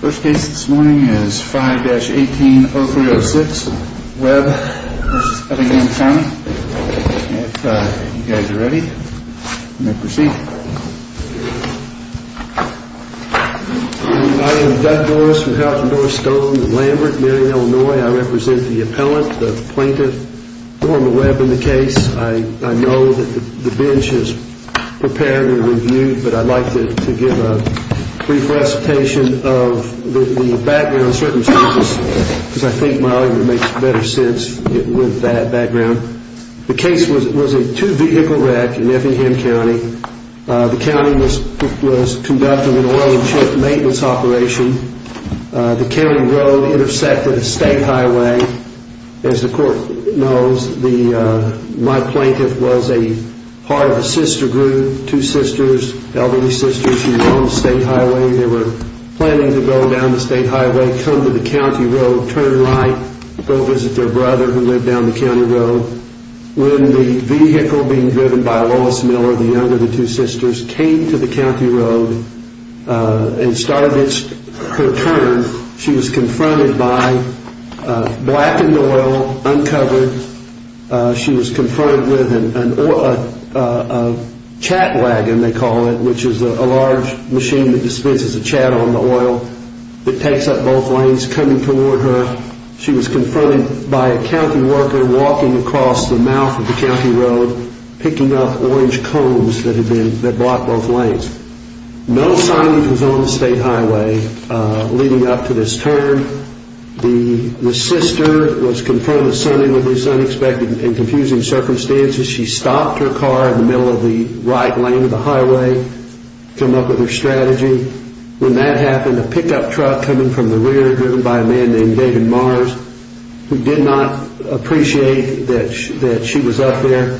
First case this morning is 5-18-0306, Webb v. Effingham County. If you guys are ready, you may proceed. I am Doug Doris from Houghton-Dorris Stone in Lambert, Marion, Illinois. I represent the appellant, the plaintiff. I know that the bench is prepared and reviewed, but I'd like to give a brief recitation of the background circumstances because I think Molly would make better sense with that background. The case was a two-vehicle wreck in Effingham County. The county was conducting an oil and chip maintenance operation. The county road intersected a state highway. As the court knows, my plaintiff was a part of a sister group, two sisters, elderly sisters who were on the state highway. They were planning to go down the state highway, come to the county road, turn right, go visit their brother who lived down the county road. When the vehicle being driven by Lois Miller, the younger of the two sisters, came to the county road and started her turn, she was confronted by blackened oil, uncovered. She was confronted with a chat wagon, they call it, which is a large machine that dispenses a chat on the oil. It takes up both lanes coming toward her. She was confronted by a county worker walking across the mouth of the county road picking up orange cones that block both lanes. No signage was on the state highway leading up to this turn. The sister was confronted suddenly with this unexpected and confusing circumstance. She stopped her car in the middle of the right lane of the highway to come up with her strategy. When that happened, a pickup truck coming from the rear driven by a man named David Mars, who did not appreciate that she was up there,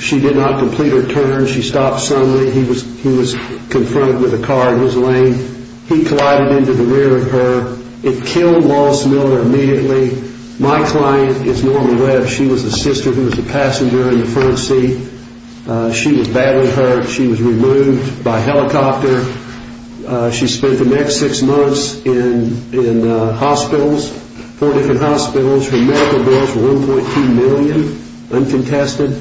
she did not complete her turn. She stopped suddenly. He was confronted with a car in his lane. He collided into the rear of her. It killed Lois Miller immediately. My client is Norma Webb. She was the sister who was the passenger in the front seat. She was badly hurt. She was removed by helicopter. She spent the next six months in hospitals, four different hospitals. Her medical bills were $1.2 million, uncontested.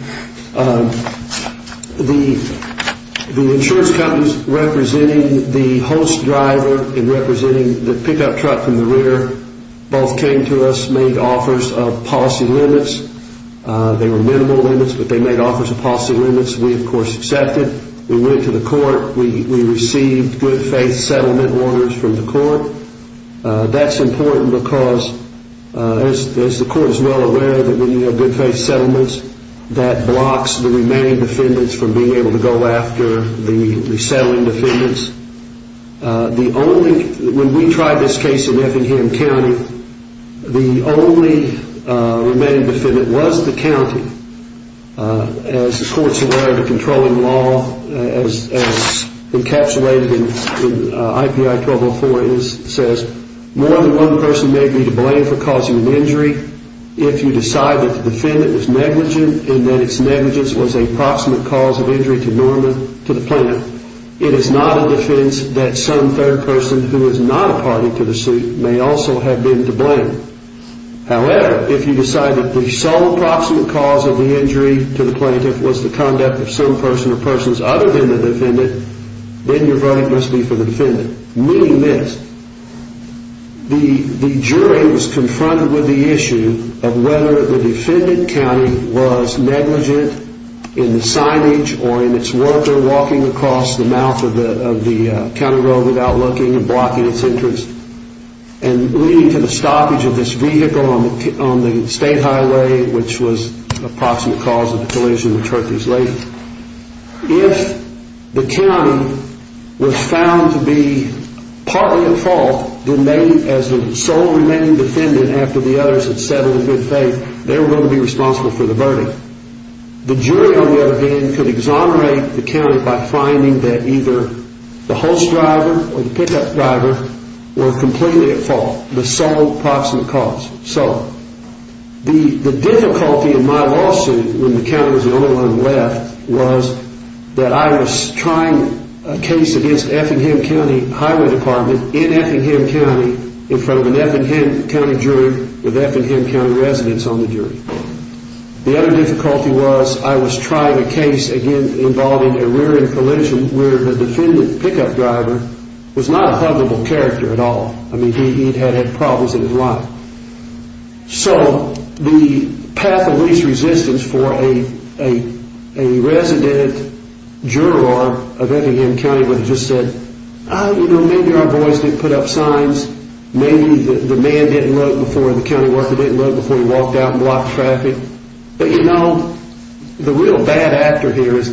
The insurance companies representing the host driver and representing the pickup truck from the rear both came to us and made offers of policy limits. They were minimal limits, but they made offers of policy limits. We, of course, accepted. We went to the court. We received good faith settlement orders from the court. That's important because, as the court is well aware, when you have good faith settlements, that blocks the remaining defendants from being able to go after the resettling defendants. When we tried this case in Effingham County, the only remaining defendant was the county. As the courts have learned in controlling law, as encapsulated in IPI 1204, it says, More than one person may be to blame for causing an injury. If you decide that the defendant is negligent and that its negligence was a proximate cause of injury to Norma, to the plaintiff, it is not a defense that some third person who is not a party to the suit may also have been to blame. However, if you decide that the sole proximate cause of the injury to the plaintiff was the conduct of some person or persons other than the defendant, then your verdict must be for the defendant. Meaning this, the jury was confronted with the issue of whether the defendant county was negligent in the signage or in its worker walking across the mouth of the county road without looking and blocking its entrance, and leading to the stoppage of this vehicle on the state highway, which was a proximate cause of the collision which hurt these ladies. If the county was found to be partly at fault, as the sole remaining defendant after the others had settled in good faith, they were going to be responsible for the verdict. The jury, on the other hand, could exonerate the county by finding that either the host driver or the pickup driver were completely at fault, the sole proximate cause. So the difficulty in my lawsuit when the county was the only one left was that I was trying a case against Effingham County Highway Department in Effingham County in front of an Effingham County jury with Effingham County residents on the jury. The other difficulty was I was trying a case involving a rear end collision where the defendant pickup driver was not a pluggable character at all. He had had problems in his life. So the path of least resistance for a resident juror of Effingham County would have just said, maybe our boys didn't put up signs, maybe the county worker didn't look before he walked out and blocked traffic. But you know, the real bad actor here is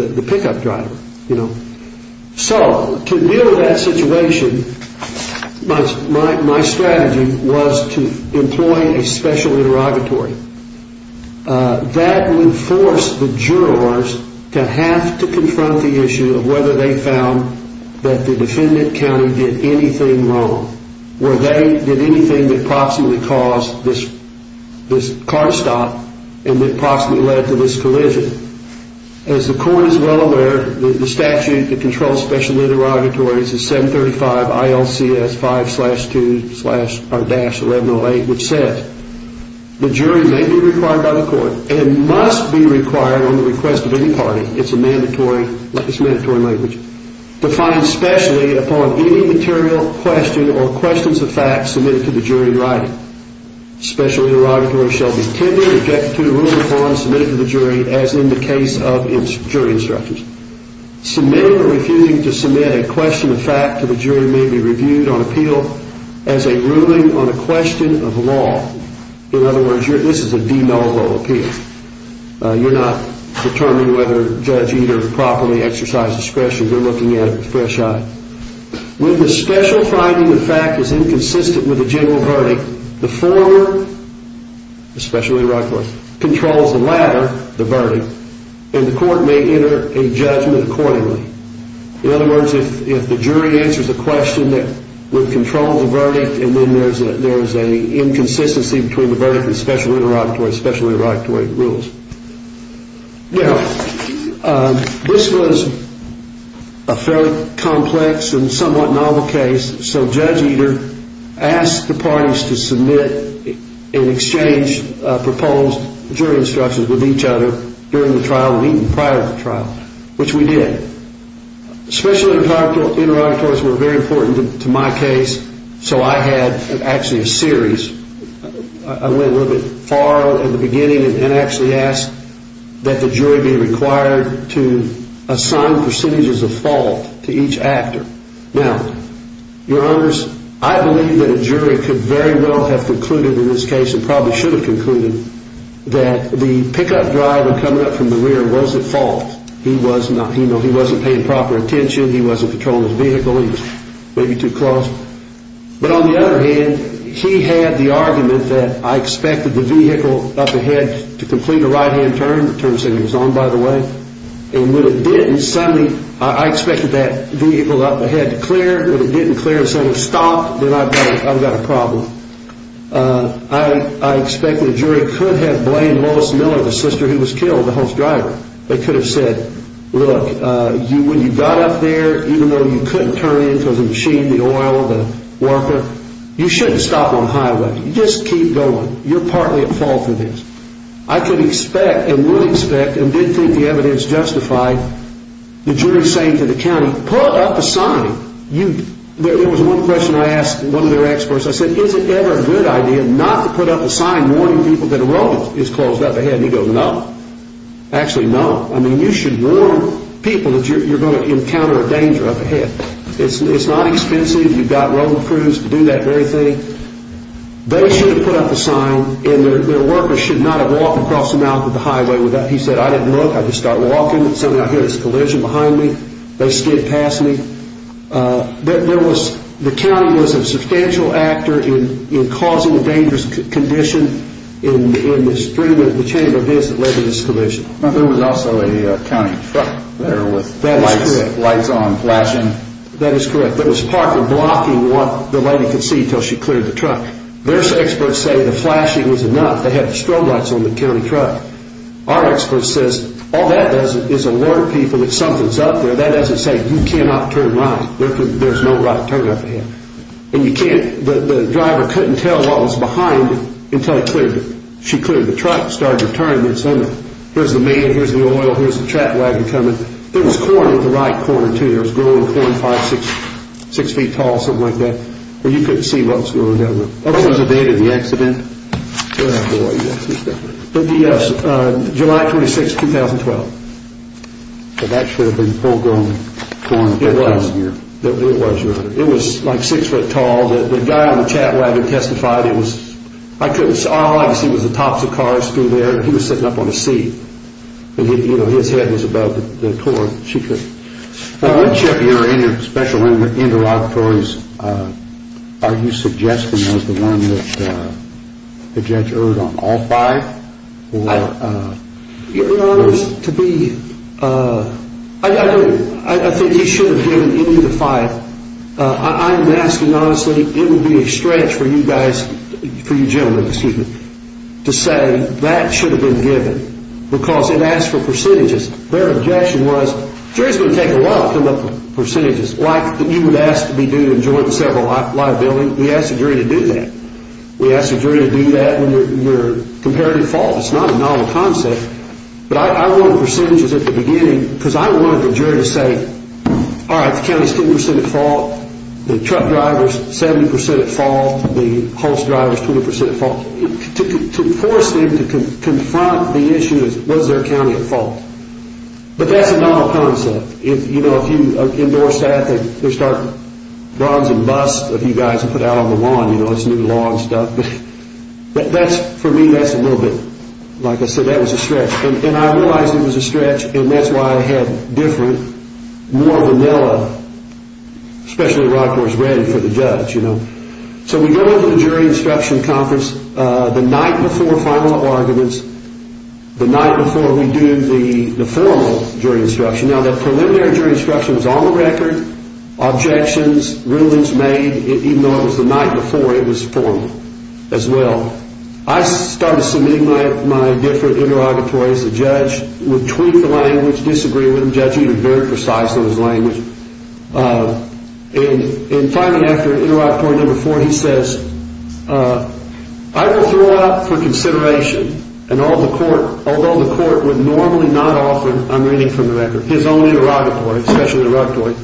the pickup driver. So to deal with that situation, my strategy was to employ a special interrogatory. That would force the jurors to have to confront the issue of whether they found that the defendant county did anything wrong, whether they did anything that proximately caused this car stop and that proximately led to this collision. As the court is well aware, the statute that controls special interrogatories is 735 ILCS 5-1108 which says, the jury may be required by the court and must be required on the request of any party, it's a mandatory language, to find specially upon any material question or questions of fact submitted to the jury in writing. Special interrogatory shall be tended, objected to, ruled upon, submitted to the jury as in the case of jury instructions. Submitting or refusing to submit a question of fact to the jury may be reviewed on appeal as a ruling on a question of law. In other words, this is a de novo appeal. You're not determining whether Judge Eder properly exercised discretion, you're looking at it with a fresh eye. When the special finding of fact is inconsistent with the general verdict, the former, especially the right one, controls the latter, the verdict, and the court may enter a judgment accordingly. In other words, if the jury answers a question that would control the verdict and then there's an inconsistency between the verdict and special interrogatory, special interrogatory rules. Now, this was a fairly complex and somewhat novel case, so Judge Eder asked the parties to submit and exchange proposed jury instructions with each other during the trial and even prior to the trial, which we did. Special interrogatories were very important to my case, so I had actually a series. I went a little bit far at the beginning and actually asked that the jury be required to assign percentages of fault to each actor. Now, your honors, I believe that a jury could very well have concluded in this case and probably should have concluded that the pickup driver coming up from the rear was at fault. He wasn't paying proper attention, he wasn't controlling his vehicle, he was maybe too close. But on the other hand, he had the argument that I expected the vehicle up ahead to complete a right-hand turn, the turn signal was on, by the way, and when it didn't, suddenly, I expected that vehicle up ahead to clear. When it didn't clear, I said, stop, then I've got a problem. I expected the jury could have blamed Lois Miller, the sister who was killed, the host driver. They could have said, look, when you got up there, even though you couldn't turn into the machine, the oil, the worker, you shouldn't stop on highway. You just keep going. You're partly at fault for this. I could expect and would expect and did think the evidence justified the jury saying to the county, pull up a sign. There was one question I asked one of their experts. I said, is it ever a good idea not to put up a sign warning people that a road is closed up ahead? And he goes, no. Actually, no. I mean, you should warn people that you're going to encounter a danger up ahead. It's not expensive. You've got road crews to do that very thing. They should have put up a sign and their workers should not have walked across the mouth of the highway. He said, I didn't look. I just started walking. Suddenly, I hear there's a collision behind me. They skid past me. The county was a substantial actor in causing a dangerous condition in the chamber of this that led to this collision. There was also a county truck there with lights on, flashing. That is correct. It was partly blocking what the lady could see until she cleared the truck. Their experts say the flashing was enough. They had strobe lights on the county truck. Our expert says all that does is alert people that something's up there. That doesn't say you cannot turn right. There's no right turn up ahead. The driver couldn't tell what was behind until she cleared the truck and started to turn. Here's the man, here's the oil, here's the track wagon coming. There was corn in the right corner too. It was growing corn, five, six feet tall, something like that. You couldn't see what was growing that way. What was the date of the accident? July 26, 2012. That should have been full-grown corn. It was. It was, Your Honor. It was like six feet tall. The guy on the track wagon testified. All I could see was the tops of cars through there. He was sitting up on a seat. His head was above the corn. Which of your special interrogatories are you suggesting as the one that the judge erred on? All five? Your Honor, I think he should have given any of the five. I'm asking honestly, it would be a stretch for you gentlemen to say that should have been given because it asked for percentages. Their objection was, jury's going to take a while to come up with percentages. Like you would ask to be due in joint and several liabilities. We ask the jury to do that. We ask the jury to do that when you're comparatively at fault. It's not a novel concept. But I wanted percentages at the beginning because I wanted the jury to say, all right, the county's 10% at fault. The truck driver's 70% at fault. The horse driver's 20% at fault. To force them to confront the issue of was their county at fault. But that's a novel concept. If you endorse that, they'll start bronze and bust of you guys and put it out on the lawn. It's new law and stuff. But for me, that's a little bit, like I said, that was a stretch. And I realized it was a stretch and that's why I had different, more vanilla, especially rock horse ready for the judge. So we go into the jury instruction conference the night before final arguments, the night before we do the formal jury instruction. Now, the preliminary jury instruction was on the record. Objections, rulings made, even though it was the night before, it was formal as well. I started submitting my different interrogatories. The judge would tweak the language, disagree with them. The judge used very precise language. And finally, after interrogatory number four, he says, I will throw out for consideration and all the court, although the court would normally not offer, I'm reading from the record, his own interrogatory, special interrogatory.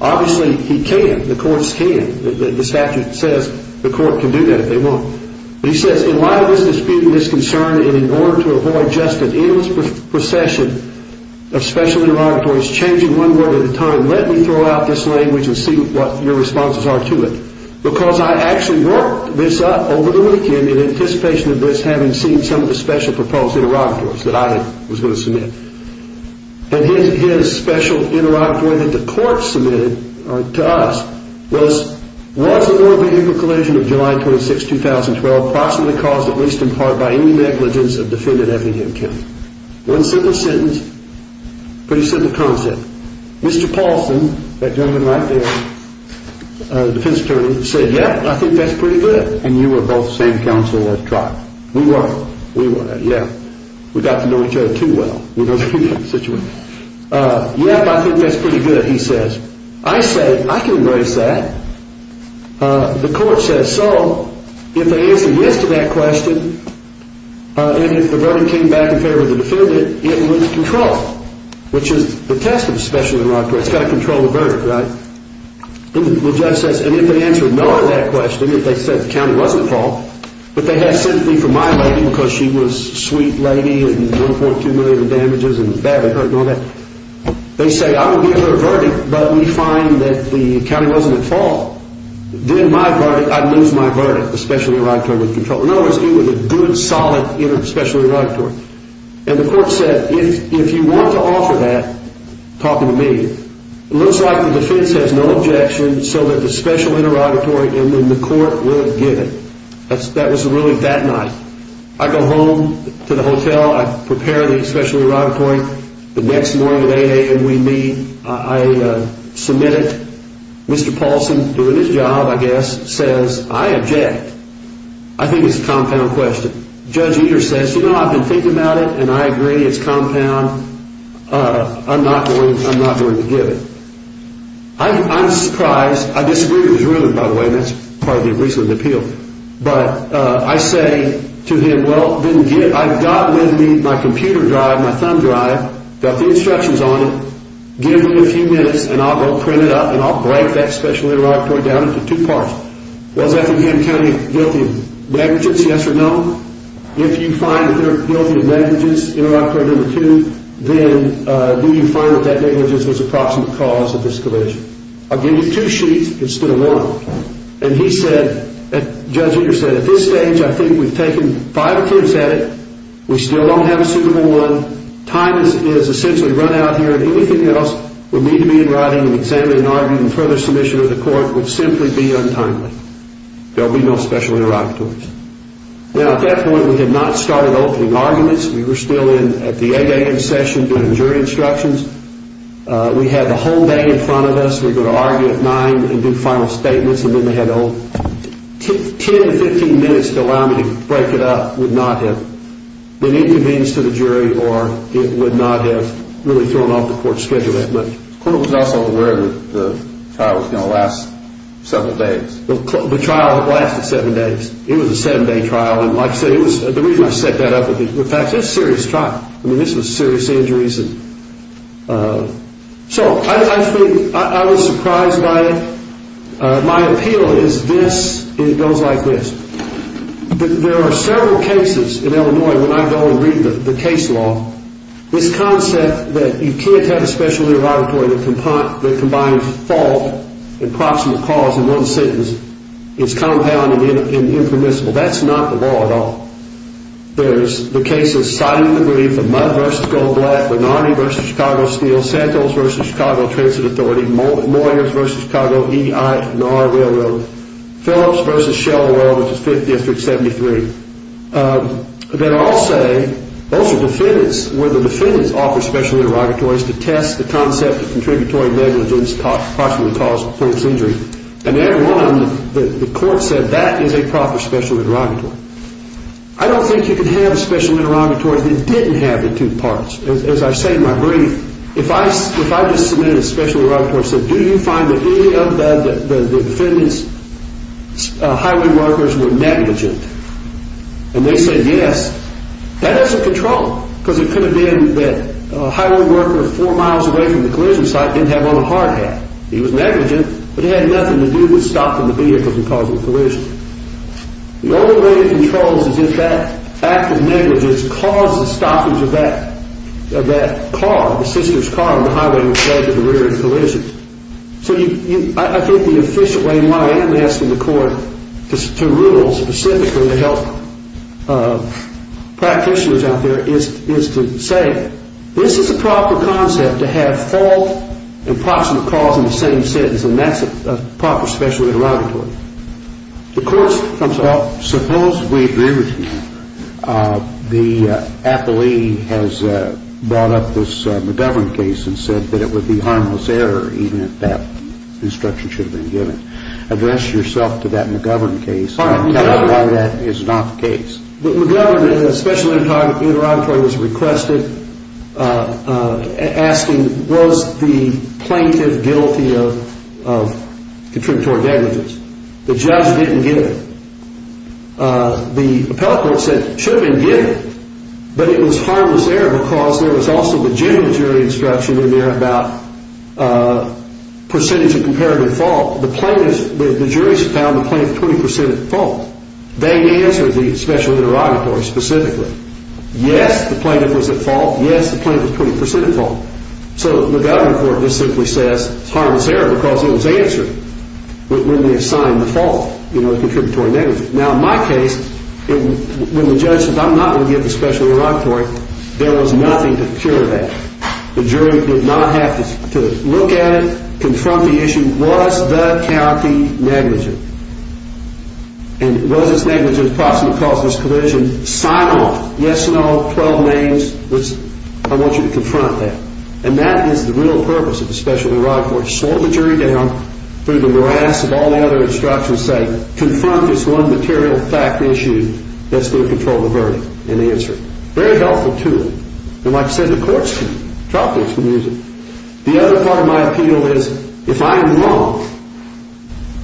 Obviously, he can't. The courts can't. The statute says the court can do that if they want. He says, in light of this dispute and this concern, and in order to avoid just an endless procession of special interrogatories, changing one word at a time, let me throw out this language and see what your responses are to it. Because I actually worked this up over the weekend in anticipation of this, having seen some of the special proposed interrogatories that I was going to submit. And his special interrogatory that the court submitted to us was, was the war vehicle collision of July 26, 2012, approximately caused at least in part by any negligence of defendant Effingham County? One simple sentence, pretty simple concept. Mr. Paulson, that gentleman right there, defense attorney, said, yeah, I think that's pretty good. And you were both same counsel at trial. We were. We were. Yeah, we got to know each other too well. Yeah, I think that's pretty good, he says. I said, I can embrace that. The court says so. If they answer yes to that question, and if the verdict came back in favor of the defendant, it was controlled, which is the test of a special interrogator. It's got to control the verdict, right? The judge says, and if they answer no to that question, if they said the county wasn't at fault, but they had sympathy for my lady because she was sweet lady and 1.2 million in damages and badly hurt and all that. They say, I will give her a verdict, but we find that the county wasn't at fault. Then my verdict, I'd lose my verdict, the special interrogatory would control. In other words, it was a good, solid, special interrogatory. And the court said, if you want to offer that, talk to me. It looks like the defense has no objection, so that the special interrogatory, and then the court would give it. That was really that night. I go home to the hotel. I prepare the special interrogatory. The next morning at 8 a.m., we meet. I submit it. Mr. Paulson, doing his job, I guess, says, I object. I think it's a compound question. Judge Eder says, you know, I've been thinking about it, and I agree it's compound. I'm not going to give it. I'm surprised. I disagree with his ruling, by the way. That's part of the recent appeal. But I say to him, well, I've got with me my computer drive, my thumb drive, got the instructions on it. Give me a few minutes, and I'll go print it up, and I'll break that special interrogatory down into two parts. Was Effingham County guilty of negligence, yes or no? If you find that they're guilty of negligence, interrogatory number two, then do you find that that negligence was a proximate cause of this collision? I'll give you two sheets instead of one. And he said, Judge Eder said, at this stage, I think we've taken five appeals at it. We still don't have a suitable one. Time has essentially run out here, and anything else would need to be in writing, and further submission to the court would simply be untimely. There would be no special interrogatories. Now, at that point, we had not started opening arguments. We were still in at the 8 a.m. session doing jury instructions. We had the whole day in front of us. We were going to argue at 9 and do final statements, and then they had to open. Ten to 15 minutes to allow me to break it up would not have been inconvenienced to the jury, or it would not have really thrown off the court schedule that much. The court was also aware that the trial was going to last several days. The trial lasted seven days. It was a seven-day trial, and like I said, it was the reason I set that up. In fact, it was a serious trial. I mean, this was serious injuries. So I think I was surprised by it. My appeal is this, and it goes like this. There are several cases in Illinois when I go and read the case law. This concept that you can't have a special interrogatory that combines fault and proximate cause in one sentence is compounded and impermissible. That's not the law at all. There's the cases Siding v. Greve, the Mudd v. Goldblatt, Benardi v. Chicago Steel, Santos v. Chicago Transit Authority, Moyers v. Chicago E.I. Knorr Railroad, Phillips v. Shell Road, which is 5th District, 73. Those are defendants where the defendants offer special interrogatories to test the concept of contributory negligence, proximate cause, point of injury. And everyone, the court said that is a proper special interrogatory. I don't think you can have a special interrogatory that didn't have the two parts. As I say in my brief, if I just submitted a special interrogatory and said, do you find that any of the defendants' highway workers were negligent, and they said yes, that is a control. Because it could have been that a highway worker four miles away from the collision site didn't have on a hard hat. He was negligent, but it had nothing to do with stopping the vehicle from causing a collision. The only way it controls is if that act of negligence caused the stoppage of that car, the sister's car on the highway, instead of the rear end collision. So I think the efficient way, and why I am asking the court to rule specifically to help practitioners out there, is to say this is a proper concept to have fault and proximate cause in the same sentence, and that's a proper special interrogatory. Suppose we agree with you. The appellee has brought up this McGovern case and said that it would be harmless error, even if that instruction should have been given. Address yourself to that McGovern case and tell us why that is not the case. McGovern, a special interrogatory was requested asking, was the plaintiff guilty of contributory negligence? The judge didn't give it. The appellate court said it should have been given, but it was harmless error because there was also the general jury instruction in there about percentage of comparative fault. The jury found the plaintiff 20% at fault. They answered the special interrogatory specifically. Yes, the plaintiff was at fault. Yes, the plaintiff was 20% at fault. So the McGovern court just simply says it's harmless error because it was answered when they assigned the fault, you know, the contributory negligence. Now, in my case, when the judge says I'm not going to give the special interrogatory, there was nothing to cure that. The jury did not have to look at it, confront the issue. Was the county negligent? And was this negligence proximate cause of this collision? And sign off, yes, no, 12 names. I want you to confront that. And that is the real purpose of the special interrogatory. Slow the jury down through the morass of all the other instructions saying, confront this one material fact issue that's going to control the verdict and the answer. Very helpful tool. And like I said, the courts can use it. Trial courts can use it. The other part of my appeal is if I am wrong,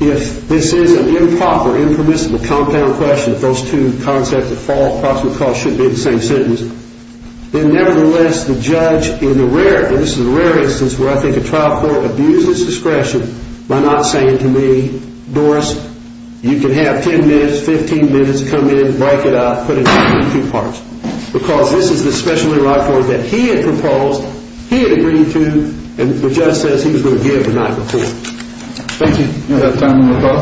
if this is an improper, impermissible compound question, if those two concepts of fault and proximate cause shouldn't be in the same sentence, then nevertheless the judge in the rare, and this is a rare instance where I think a trial court abuses discretion by not saying to me, Doris, you can have 10 minutes, 15 minutes, come in, break it up, put it in two parts. Because this is the special interrogatory that he had proposed, he had agreed to, and the judge says he was going to give and not report. Thank you. We have time for one more call.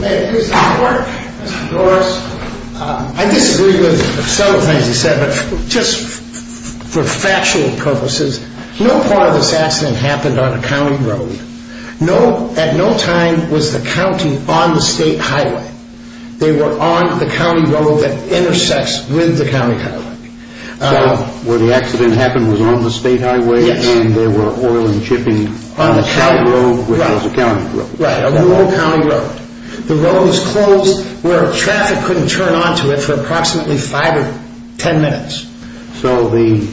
May it please the court, Mr. Doris. I disagree with some of the things you said, but just for factual purposes, no part of this accident happened on a county road. At no time was the county on the state highway. They were on the county road that intersects with the county highway. So where the accident happened was on the state highway, and there were oil and shipping on the county road, which was a county road. Right, a rural county road. The road was closed where traffic couldn't turn onto it for approximately 5 or 10 minutes. So the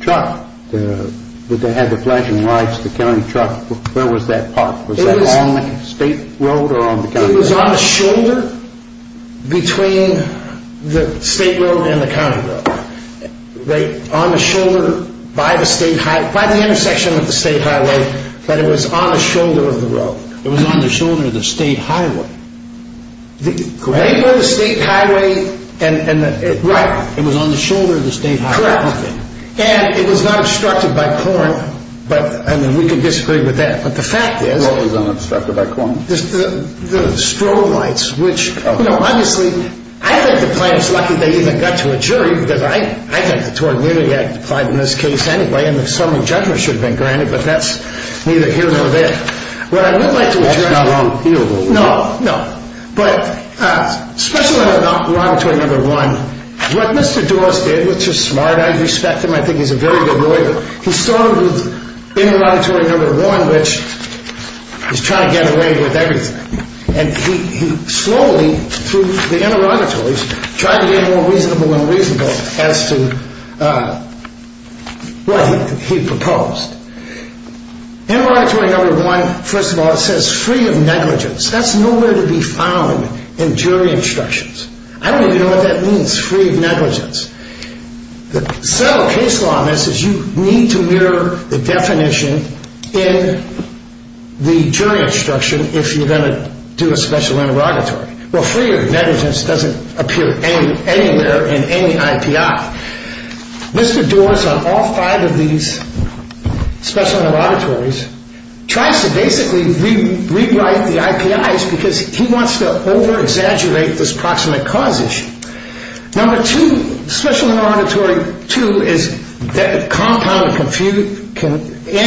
truck that had the flashing lights, the county truck, where was that parked? It was on the shoulder between the state road and the county road. On the shoulder by the state highway, by the intersection of the state highway, but it was on the shoulder of the road. It was on the shoulder of the state highway. Right? Right by the state highway. Right. It was on the shoulder of the state highway. Correct. And it was not obstructed by corn, and we can disagree with that. But the fact is— It was not obstructed by corn. The strobe lights, which, you know, obviously— I think the plaintiff's lucky they even got to a jury, because I think the Tort Mutuality Act applied in this case anyway, and the summary judgment should have been granted, but that's neither here nor there. What I would like to address— That's not wrong here, though. No, no. But especially in the laudatory number one, what Mr. Dawes did, which is smart. I respect him. I think he's a very good lawyer. He started with interrogatory number one, which is trying to get away with everything. And he slowly, through the interrogatories, tried to get more reasonable and reasonable as to what he proposed. Interrogatory number one, first of all, it says free of negligence. That's nowhere to be found in jury instructions. I don't even know what that means, free of negligence. The central case law on this is you need to mirror the definition in the jury instruction if you're going to do a special interrogatory. Well, free of negligence doesn't appear anywhere in any IPI. Mr. Dawes, on all five of these special interrogatories, tries to basically rewrite the IPIs because he wants to over-exaggerate this proximate cause issue. Number two, special interrogatory two is compound and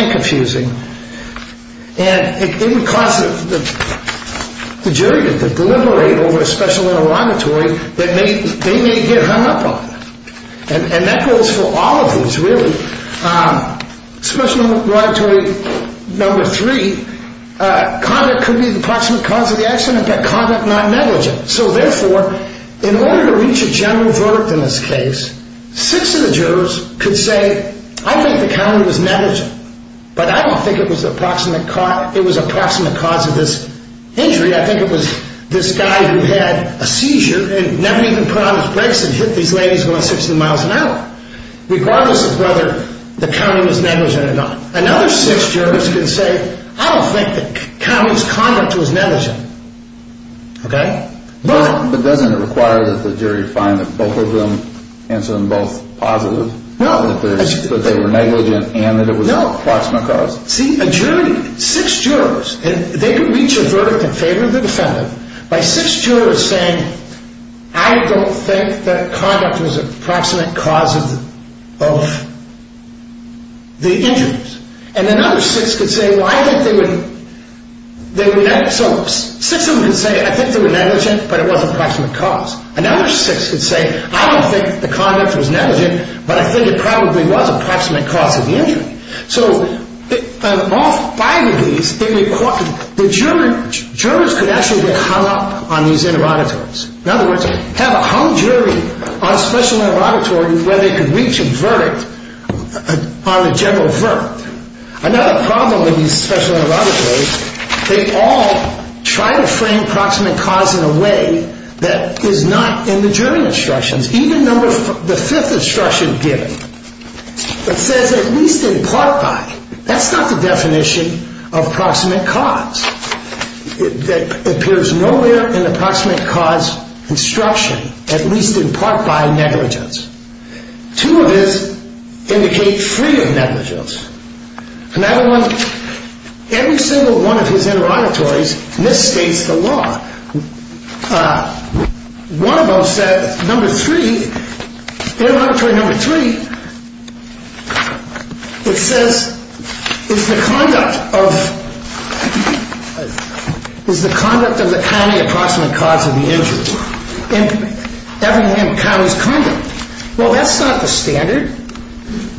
confusing. And it would cause the jury to deliberate over a special interrogatory that they may get hung up on. And that goes for all of these, really. Special interrogatory number three, conduct could be the proximate cause of the accident, but conduct not negligent. So therefore, in order to reach a general verdict in this case, six of the jurors could say, I think the county was negligent, but I don't think it was a proximate cause of this injury. I think it was this guy who had a seizure and never even put on his brakes and hit these ladies going 60 miles an hour, regardless of whether the county was negligent or not. Another six jurors could say, I don't think the county's conduct was negligent. But doesn't it require that the jury find that both of them answer them both positive, that they were negligent and that it was a proximate cause? See, a jury, six jurors, they could reach a verdict in favor of the defendant by six jurors saying, I don't think that conduct was a proximate cause of the injuries. And another six could say, well, I think they were negligent. So six of them could say, I think they were negligent, but it was a proximate cause. Another six could say, I don't think the conduct was negligent, but I think it probably was a proximate cause of the injury. So of all five of these, the jurors could actually get hung up on these interrogatories. In other words, have a hung jury on a special interrogatory where they could reach a verdict on a general verdict. Another problem with these special interrogatories, they all try to frame proximate cause in a way that is not in the jury instructions, even the fifth instruction given that says at least in part by. That's not the definition of proximate cause. It appears nowhere in the proximate cause instruction, at least in part by negligence. Two of these indicate free of negligence. Another one, every single one of his interrogatories misstates the law. One of them said, number three, interrogatory number three, it says it's the conduct of the county approximate cause of the injury. Everything in the county is conduct. Well, that's not the standard.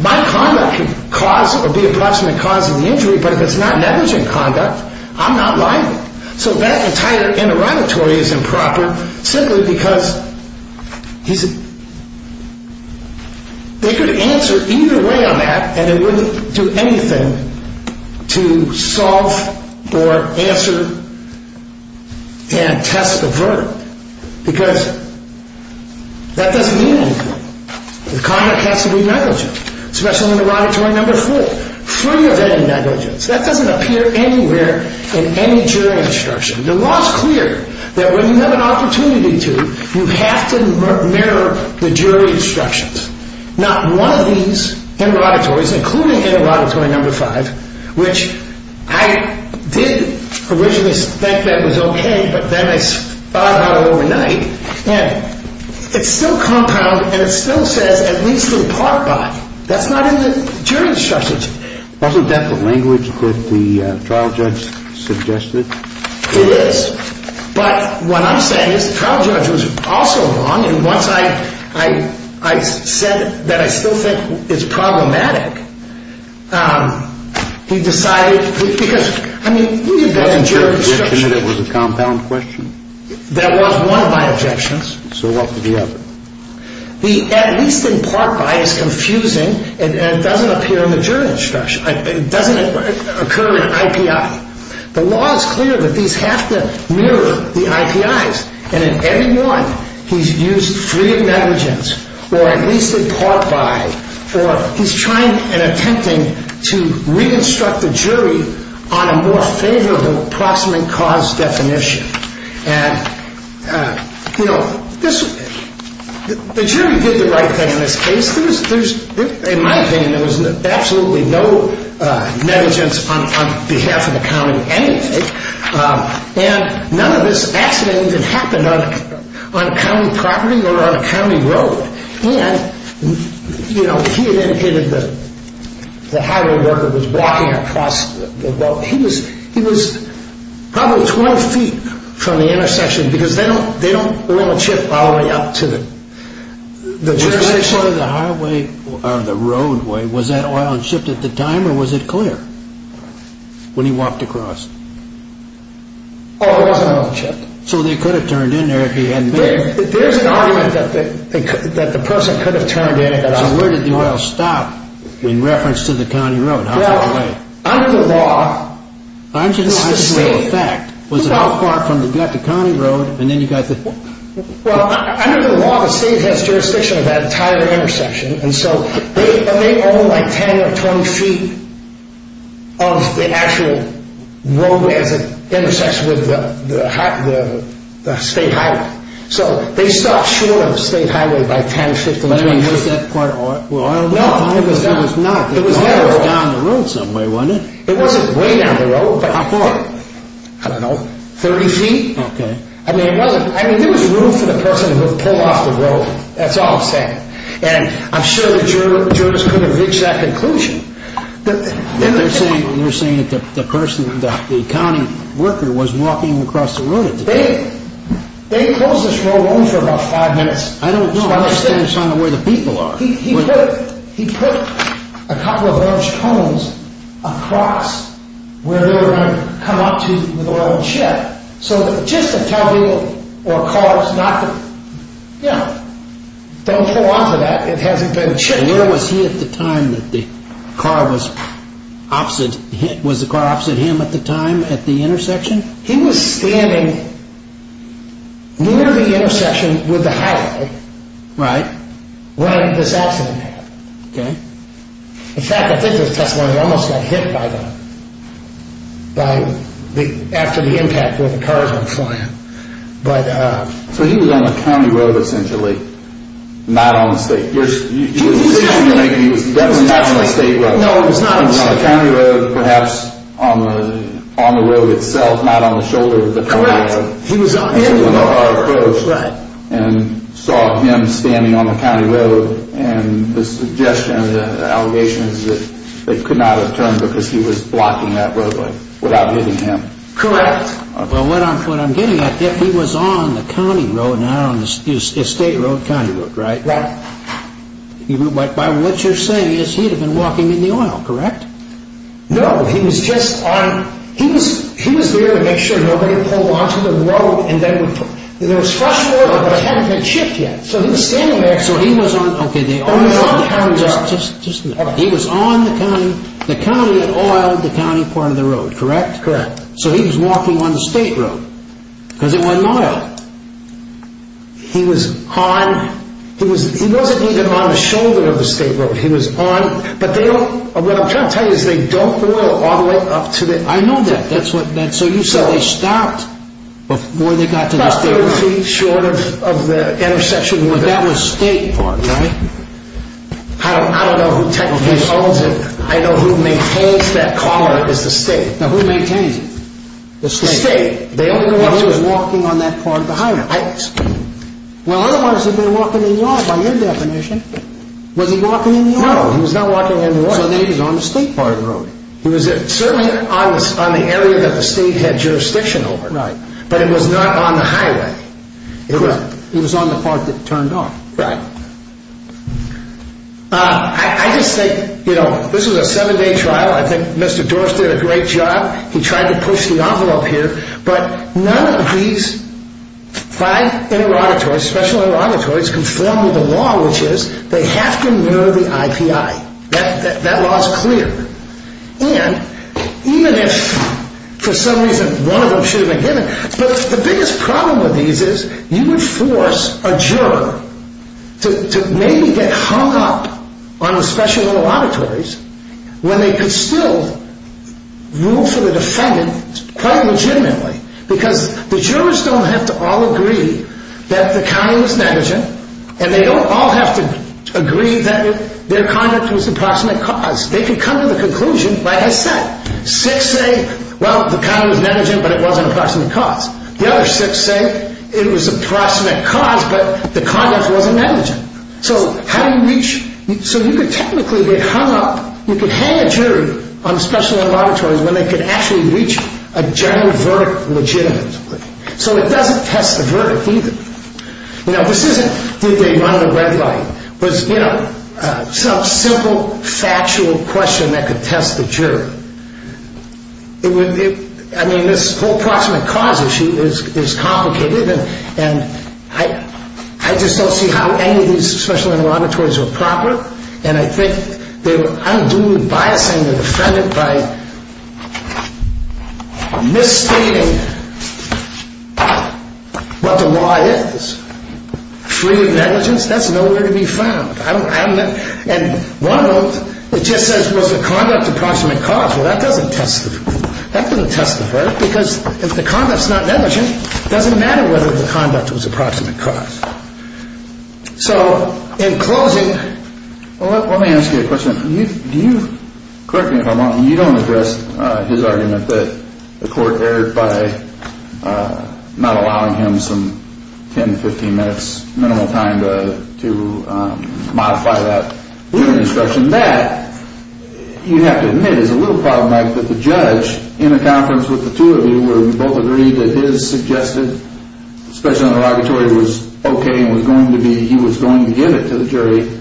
My conduct could cause or be approximate cause of the injury, but if it's not negligent conduct, I'm not liable. So that entire interrogatory is improper simply because they could answer either way on that and they wouldn't do anything to solve or answer and test the verdict because that doesn't mean anything. The conduct has to be negligent, special interrogatory number four, free of any negligence. That doesn't appear anywhere in any jury instruction. The law is clear that when you have an opportunity to, you have to mirror the jury instructions. Not one of these interrogatories, including interrogatory number five, which I did originally think that was okay, but then I thought about it overnight, and it's still compound and it still says at least in part by. That's not in the jury instructions. Wasn't that the language that the trial judge suggested? It is. But what I'm saying is the trial judge was also wrong, and once I said that I still think it's problematic, he decided because, I mean, look at that in jury instruction. Wasn't your objection that it was a compound question? That was one of my objections. So what was the other? The at least in part by is confusing and doesn't appear in the jury instruction. It doesn't occur in IPI. The law is clear that these have to mirror the IPIs, and in every one he's used free of negligence or at least in part by or he's trying and attempting to re-instruct the jury on a more favorable proximate cause definition. And, you know, the jury did the right thing in this case. In my opinion, there was absolutely no negligence on behalf of the county anyway, and none of this accident even happened on county property or on a county road. And, you know, he had indicated the highway worker was walking across the road. He was probably 20 feet from the intersection because they don't oil a chip all the way up to the jurisdiction. As far as the highway or the roadway, was that oiled and shipped at the time or was it clear when he walked across? Oh, it wasn't oiled and shipped. So they could have turned in there if he hadn't been there. There's an argument that the person could have turned in. So where did the oil stop in reference to the county road? Well, under the law, the state has jurisdiction of that entire intersection. And so they own like 10 or 20 feet of the actual roadway as it intersects with the state highway. So they stopped shoring the state highway by 10 or 15 feet. Was that part oiled at the time? No, it was not. It was down the road some way, wasn't it? It wasn't way down the road. How far? I don't know, 30 feet? Okay. I mean, there was room for the person to pull off the road. That's all I'm saying. And I'm sure the jurors could have reached that conclusion. They're saying that the person, the county worker, was walking across the road at the time. They closed this road open for about five minutes. I don't know. I'm just trying to find out where the people are. He put a couple of orange cones across where they were going to come up to with oil and shit. So just to tell people or cars not to, you know, don't fall onto that. It hasn't been checked. And where was he at the time that the car was opposite? Was the car opposite him at the time at the intersection? He was standing near the intersection with the highway. Right. When this accident happened. Okay. In fact, I think this testimony almost got hit by them after the impact where the cars were flying. So he was on the county road essentially, not on the state. He was definitely not on the state road. No, it was not on the state road. He was on the county road perhaps on the road itself, not on the shoulder of the county road. Correct. He was on the road. And saw him standing on the county road. And the suggestion, the allegation is that they could not have turned because he was blocking that road without hitting him. Correct. Well, what I'm getting at, if he was on the county road, not on the state road, county road, right? Right. By what you're saying is he would have been walking in the oil, correct? No, he was just on. He was there to make sure nobody pulled onto the road. There was fresh oil, but it hadn't been shipped yet. So he was standing there. So he was on. Okay. Just a minute. He was on the county, the county oiled the county part of the road, correct? Correct. So he was walking on the state road because it wasn't oiled. He was on. He wasn't even on the shoulder of the state road. He was on. But they don't, what I'm trying to tell you is they don't oil all the way up to the. I know that. That's what, so you said they stopped before they got to the state road. About three feet short of the intersection. But that was state part, right? I don't know who technically owns it. Now, who maintains it? The state. The state. He was walking on that part of the highway. Well, otherwise he'd be walking in the oil by your definition. Was he walking in the oil? No, he was not walking in the oil. So then he was on the state part of the road. He was certainly on the area that the state had jurisdiction over. Right. But it was not on the highway. It was on the part that turned off. Right. I just think, you know, this was a seven-day trial. I think Mr. Torres did a great job. He tried to push the envelope here. But none of these five interauditories, special interauditories, conform to the law, which is they have to mirror the IPI. That law is clear. And even if for some reason one of them should have been given, but the biggest problem with these is you would force a juror to maybe get hung up on the special interauditories when they could still rule for the defendant quite legitimately. Because the jurors don't have to all agree that the count was negligent, and they don't all have to agree that their conduct was approximate cause. They could come to the conclusion, like I said, six say, well, the count was negligent, but it wasn't approximate cause. The other six say it was approximate cause, but the conduct wasn't negligent. So how do you reach? So you could technically get hung up, you could hang a jury on special interauditories when they could actually reach a general verdict legitimately. So it doesn't test the verdict either. Now, this isn't did they run the red light. It was, you know, some simple factual question that could test the jury. I mean, this whole approximate cause issue is complicated, and I just don't see how any of these special interauditories were proper, and I think they were unduly biasing the defendant by misstating what the law is. Freedom of negligence, that's nowhere to be found. And one of them, it just says was the conduct approximate cause. Well, that doesn't test the verdict. Because if the conduct's not negligent, it doesn't matter whether the conduct was approximate cause. So in closing. Well, let me ask you a question. Do you, correct me if I'm wrong, you don't address his argument that the court erred by not allowing him some 10 to 15 minutes minimal time to modify that instruction. You have to admit it's a little problematic that the judge in a conference with the two of you where we both agreed that his suggested special interrogatory was okay and was going to be, he was going to give it to the jury.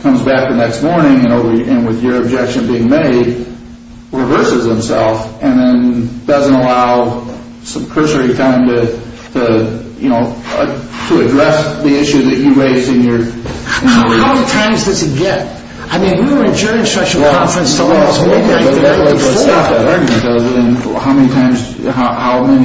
Comes back the next morning and with your objection being made, reverses himself and then doesn't allow some cursory time to, you know, to address the issue that you raised in your. How many times does he get? I mean, we were adjourned special conference the last week. How many times,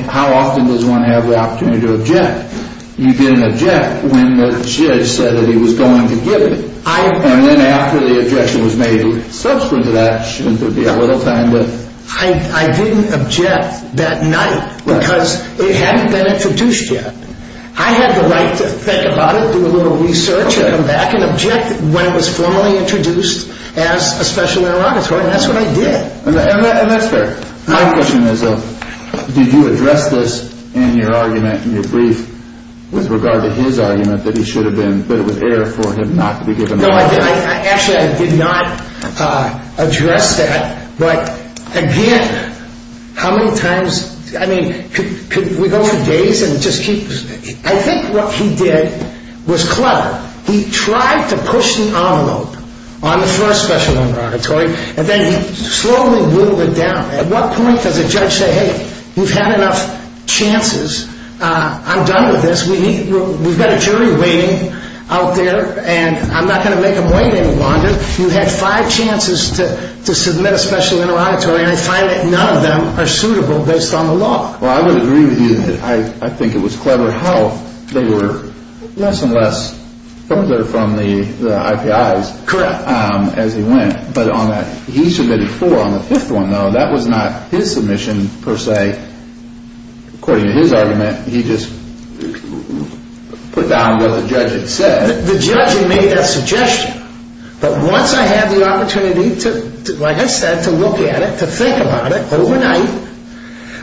how often does one have the opportunity to object? You didn't object when the judge said that he was going to give it. And then after the objection was made subsequent to that, shouldn't there be a little time to. I didn't object that night because it hadn't been introduced yet. I had the right to think about it, do a little research and come back and object when it was formally introduced as a special interrogatory. And that's what I did. And that's fair. My question is, did you address this in your argument, in your brief, with regard to his argument that he should have been, that it was error for him not to be given. No, I didn't. Actually, I did not address that. But again, how many times, I mean, could we go for days and just keep. I think what he did was clever. He tried to push an envelope on the first special interrogatory, and then he slowly whittled it down. At what point does a judge say, hey, you've had enough chances. I'm done with this. We've got a jury waiting out there, and I'm not going to make them wait any longer. You've had five chances to submit a special interrogatory, and I find that none of them are suitable based on the law. Well, I would agree with you that I think it was clever how they were less and less further from the IPIs. Correct. As he went. But on that, he submitted four. On the fifth one, though, that was not his submission, per se. According to his argument, he just put down what the judge had said. The judge had made that suggestion. But once I had the opportunity, like I said, to look at it, to think about it overnight,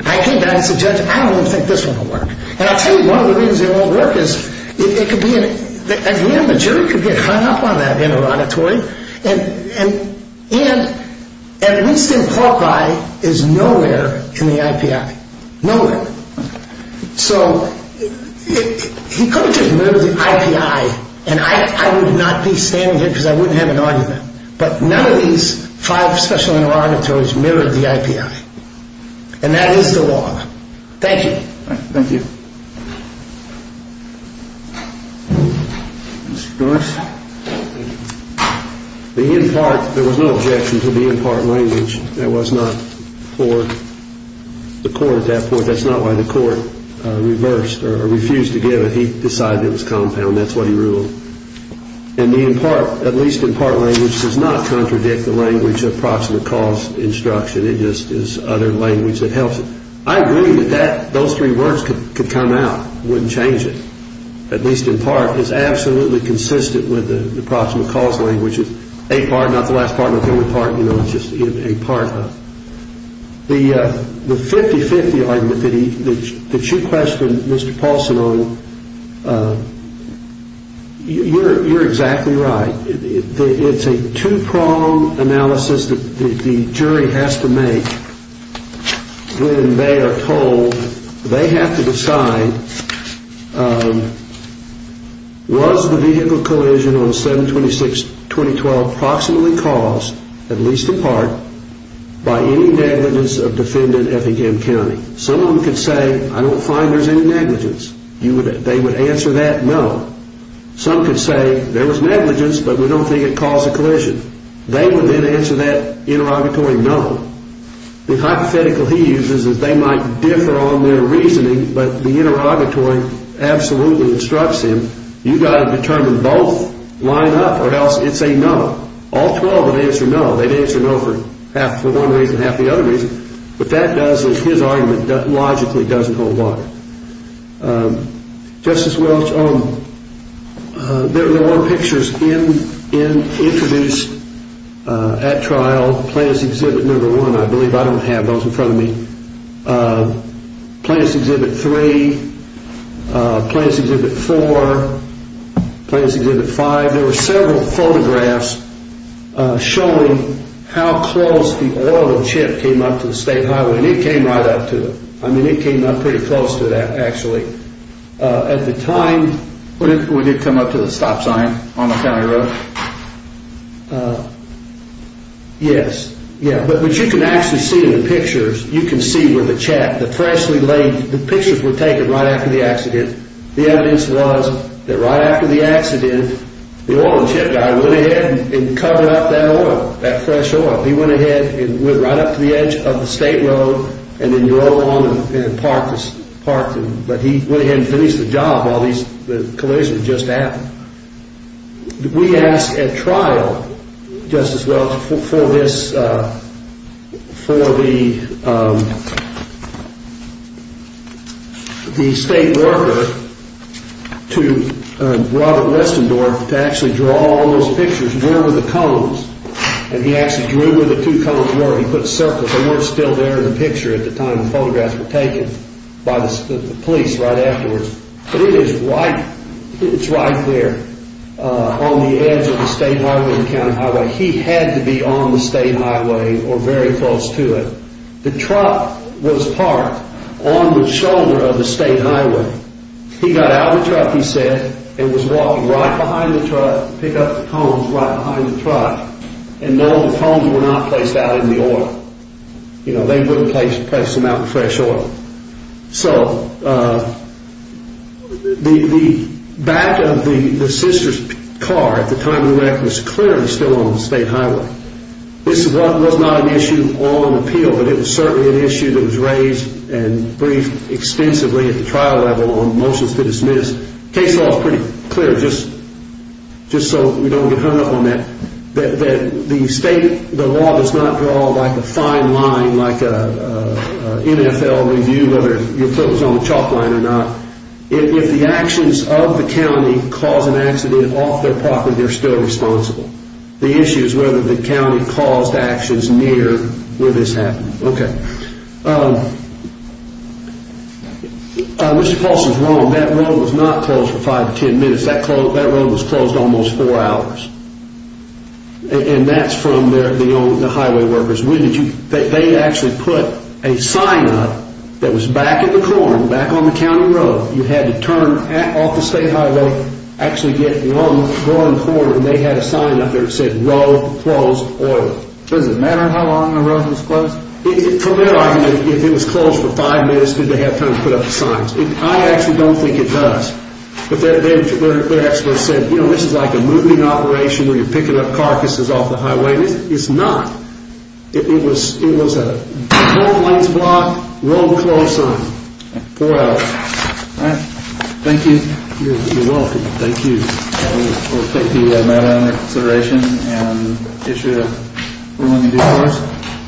I came down and said, judge, I don't even think this one will work. And I'll tell you, one of the reasons it won't work is it could be, again, the jury could get hung up on that interrogatory, and at least in Cork, I is nowhere in the IPI. Nowhere. So he could have just mirrored the IPI, and I would not be standing here because I wouldn't have an argument. But none of these five special interrogatories mirrored the IPI. And that is the law. Thank you. Thank you. Mr. Doris. The in part, there was no objection to the in part language. That was not for the court at that point. That's not why the court reversed or refused to give it. He decided it was compound. That's what he ruled. And the in part, at least in part language, does not contradict the language of proximate cause instruction. It just is other language that helps it. I agree that those three words could come out. It wouldn't change it, at least in part. It's absolutely consistent with the proximate cause language. It's just a part, not the last part, not the only part. It's just a part. The 50-50 argument that you questioned Mr. Paulson on, you're exactly right. It's a two-prong analysis that the jury has to make when they are told they have to decide, was the vehicle collision on 7-26-2012 proximately caused, at least in part, by any negligence of defendant Effingham County? Some of them could say, I don't find there's any negligence. They would answer that, no. Some could say, there was negligence, but we don't think it caused the collision. They would then answer that interrogatory, no. The hypothetical he uses is they might differ on their reasoning, but the interrogatory absolutely instructs him, you've got to determine both, line up, or else it's a no. All 12 would answer no. They'd answer no for half the one reason, half the other reason. What that does is his argument logically doesn't hold water. Justice Welch, there were pictures introduced at trial, Plaintiff's Exhibit No. 1, I believe I don't have those in front of me. Plaintiff's Exhibit No. 3, Plaintiff's Exhibit No. 4, Plaintiff's Exhibit No. 5. There were several photographs showing how close the oil chip came up to the State Highway, and it came right up to it. I mean, it came up pretty close to that, actually. At the time... When did it come up to the stop sign on the county road? Yes, yeah. But what you can actually see in the pictures, you can see where the check, the freshly laid... The pictures were taken right after the accident. The evidence was that right after the accident, the oil chip guy went ahead and covered up that oil, that fresh oil. He went ahead and went right up to the edge of the State Road, and then drove along and parked. But he went ahead and finished the job while the collision had just happened. We asked at trial, Justice Welch, for this, for the state worker to, Robert Westendorf, to actually draw all those pictures. Where were the cones? And he actually drew where the two cones were. He put circles. They weren't still there in the picture at the time the photographs were taken by the police right afterwards. But it is right there on the edge of the State Highway and County Highway. He had to be on the State Highway or very close to it. The truck was parked on the shoulder of the State Highway. He got out of the truck, he said, and was walking right behind the truck, picked up the cones right behind the truck. And no, the cones were not placed out in the oil. They wouldn't place them out in fresh oil. So the back of the sister's car at the time of the wreck was clearly still on the State Highway. This was not an issue on appeal, but it was certainly an issue that was raised and briefed extensively at the trial level on motions to dismiss. The case law is pretty clear, just so we don't get hung up on that, that the state, the law does not draw like a fine line, like an NFL review, whether your foot was on the chalk line or not. If the actions of the county cause an accident off their property, they're still responsible. The issue is whether the county caused actions near where this happened. Okay. Mr. Paulson's wrong. That road was not closed for five to ten minutes. That road was closed almost four hours. And that's from the highway workers. They actually put a sign up that was back at the corner, back on the county road. You had to turn off the State Highway, actually get one corner, and they had a sign up there that said, no closed oil. Does it matter how long the road was closed? From their argument, if it was closed for five minutes, did they have time to put up the signs? I actually don't think it does. But they actually said, you know, this is like a moving operation where you're picking up carcasses off the highway. It's not. It was a closed lanes block, road closed sign. Four hours. All right. Thank you. You're welcome. Thank you. We'll take the matter into consideration and issue a ruling in due course.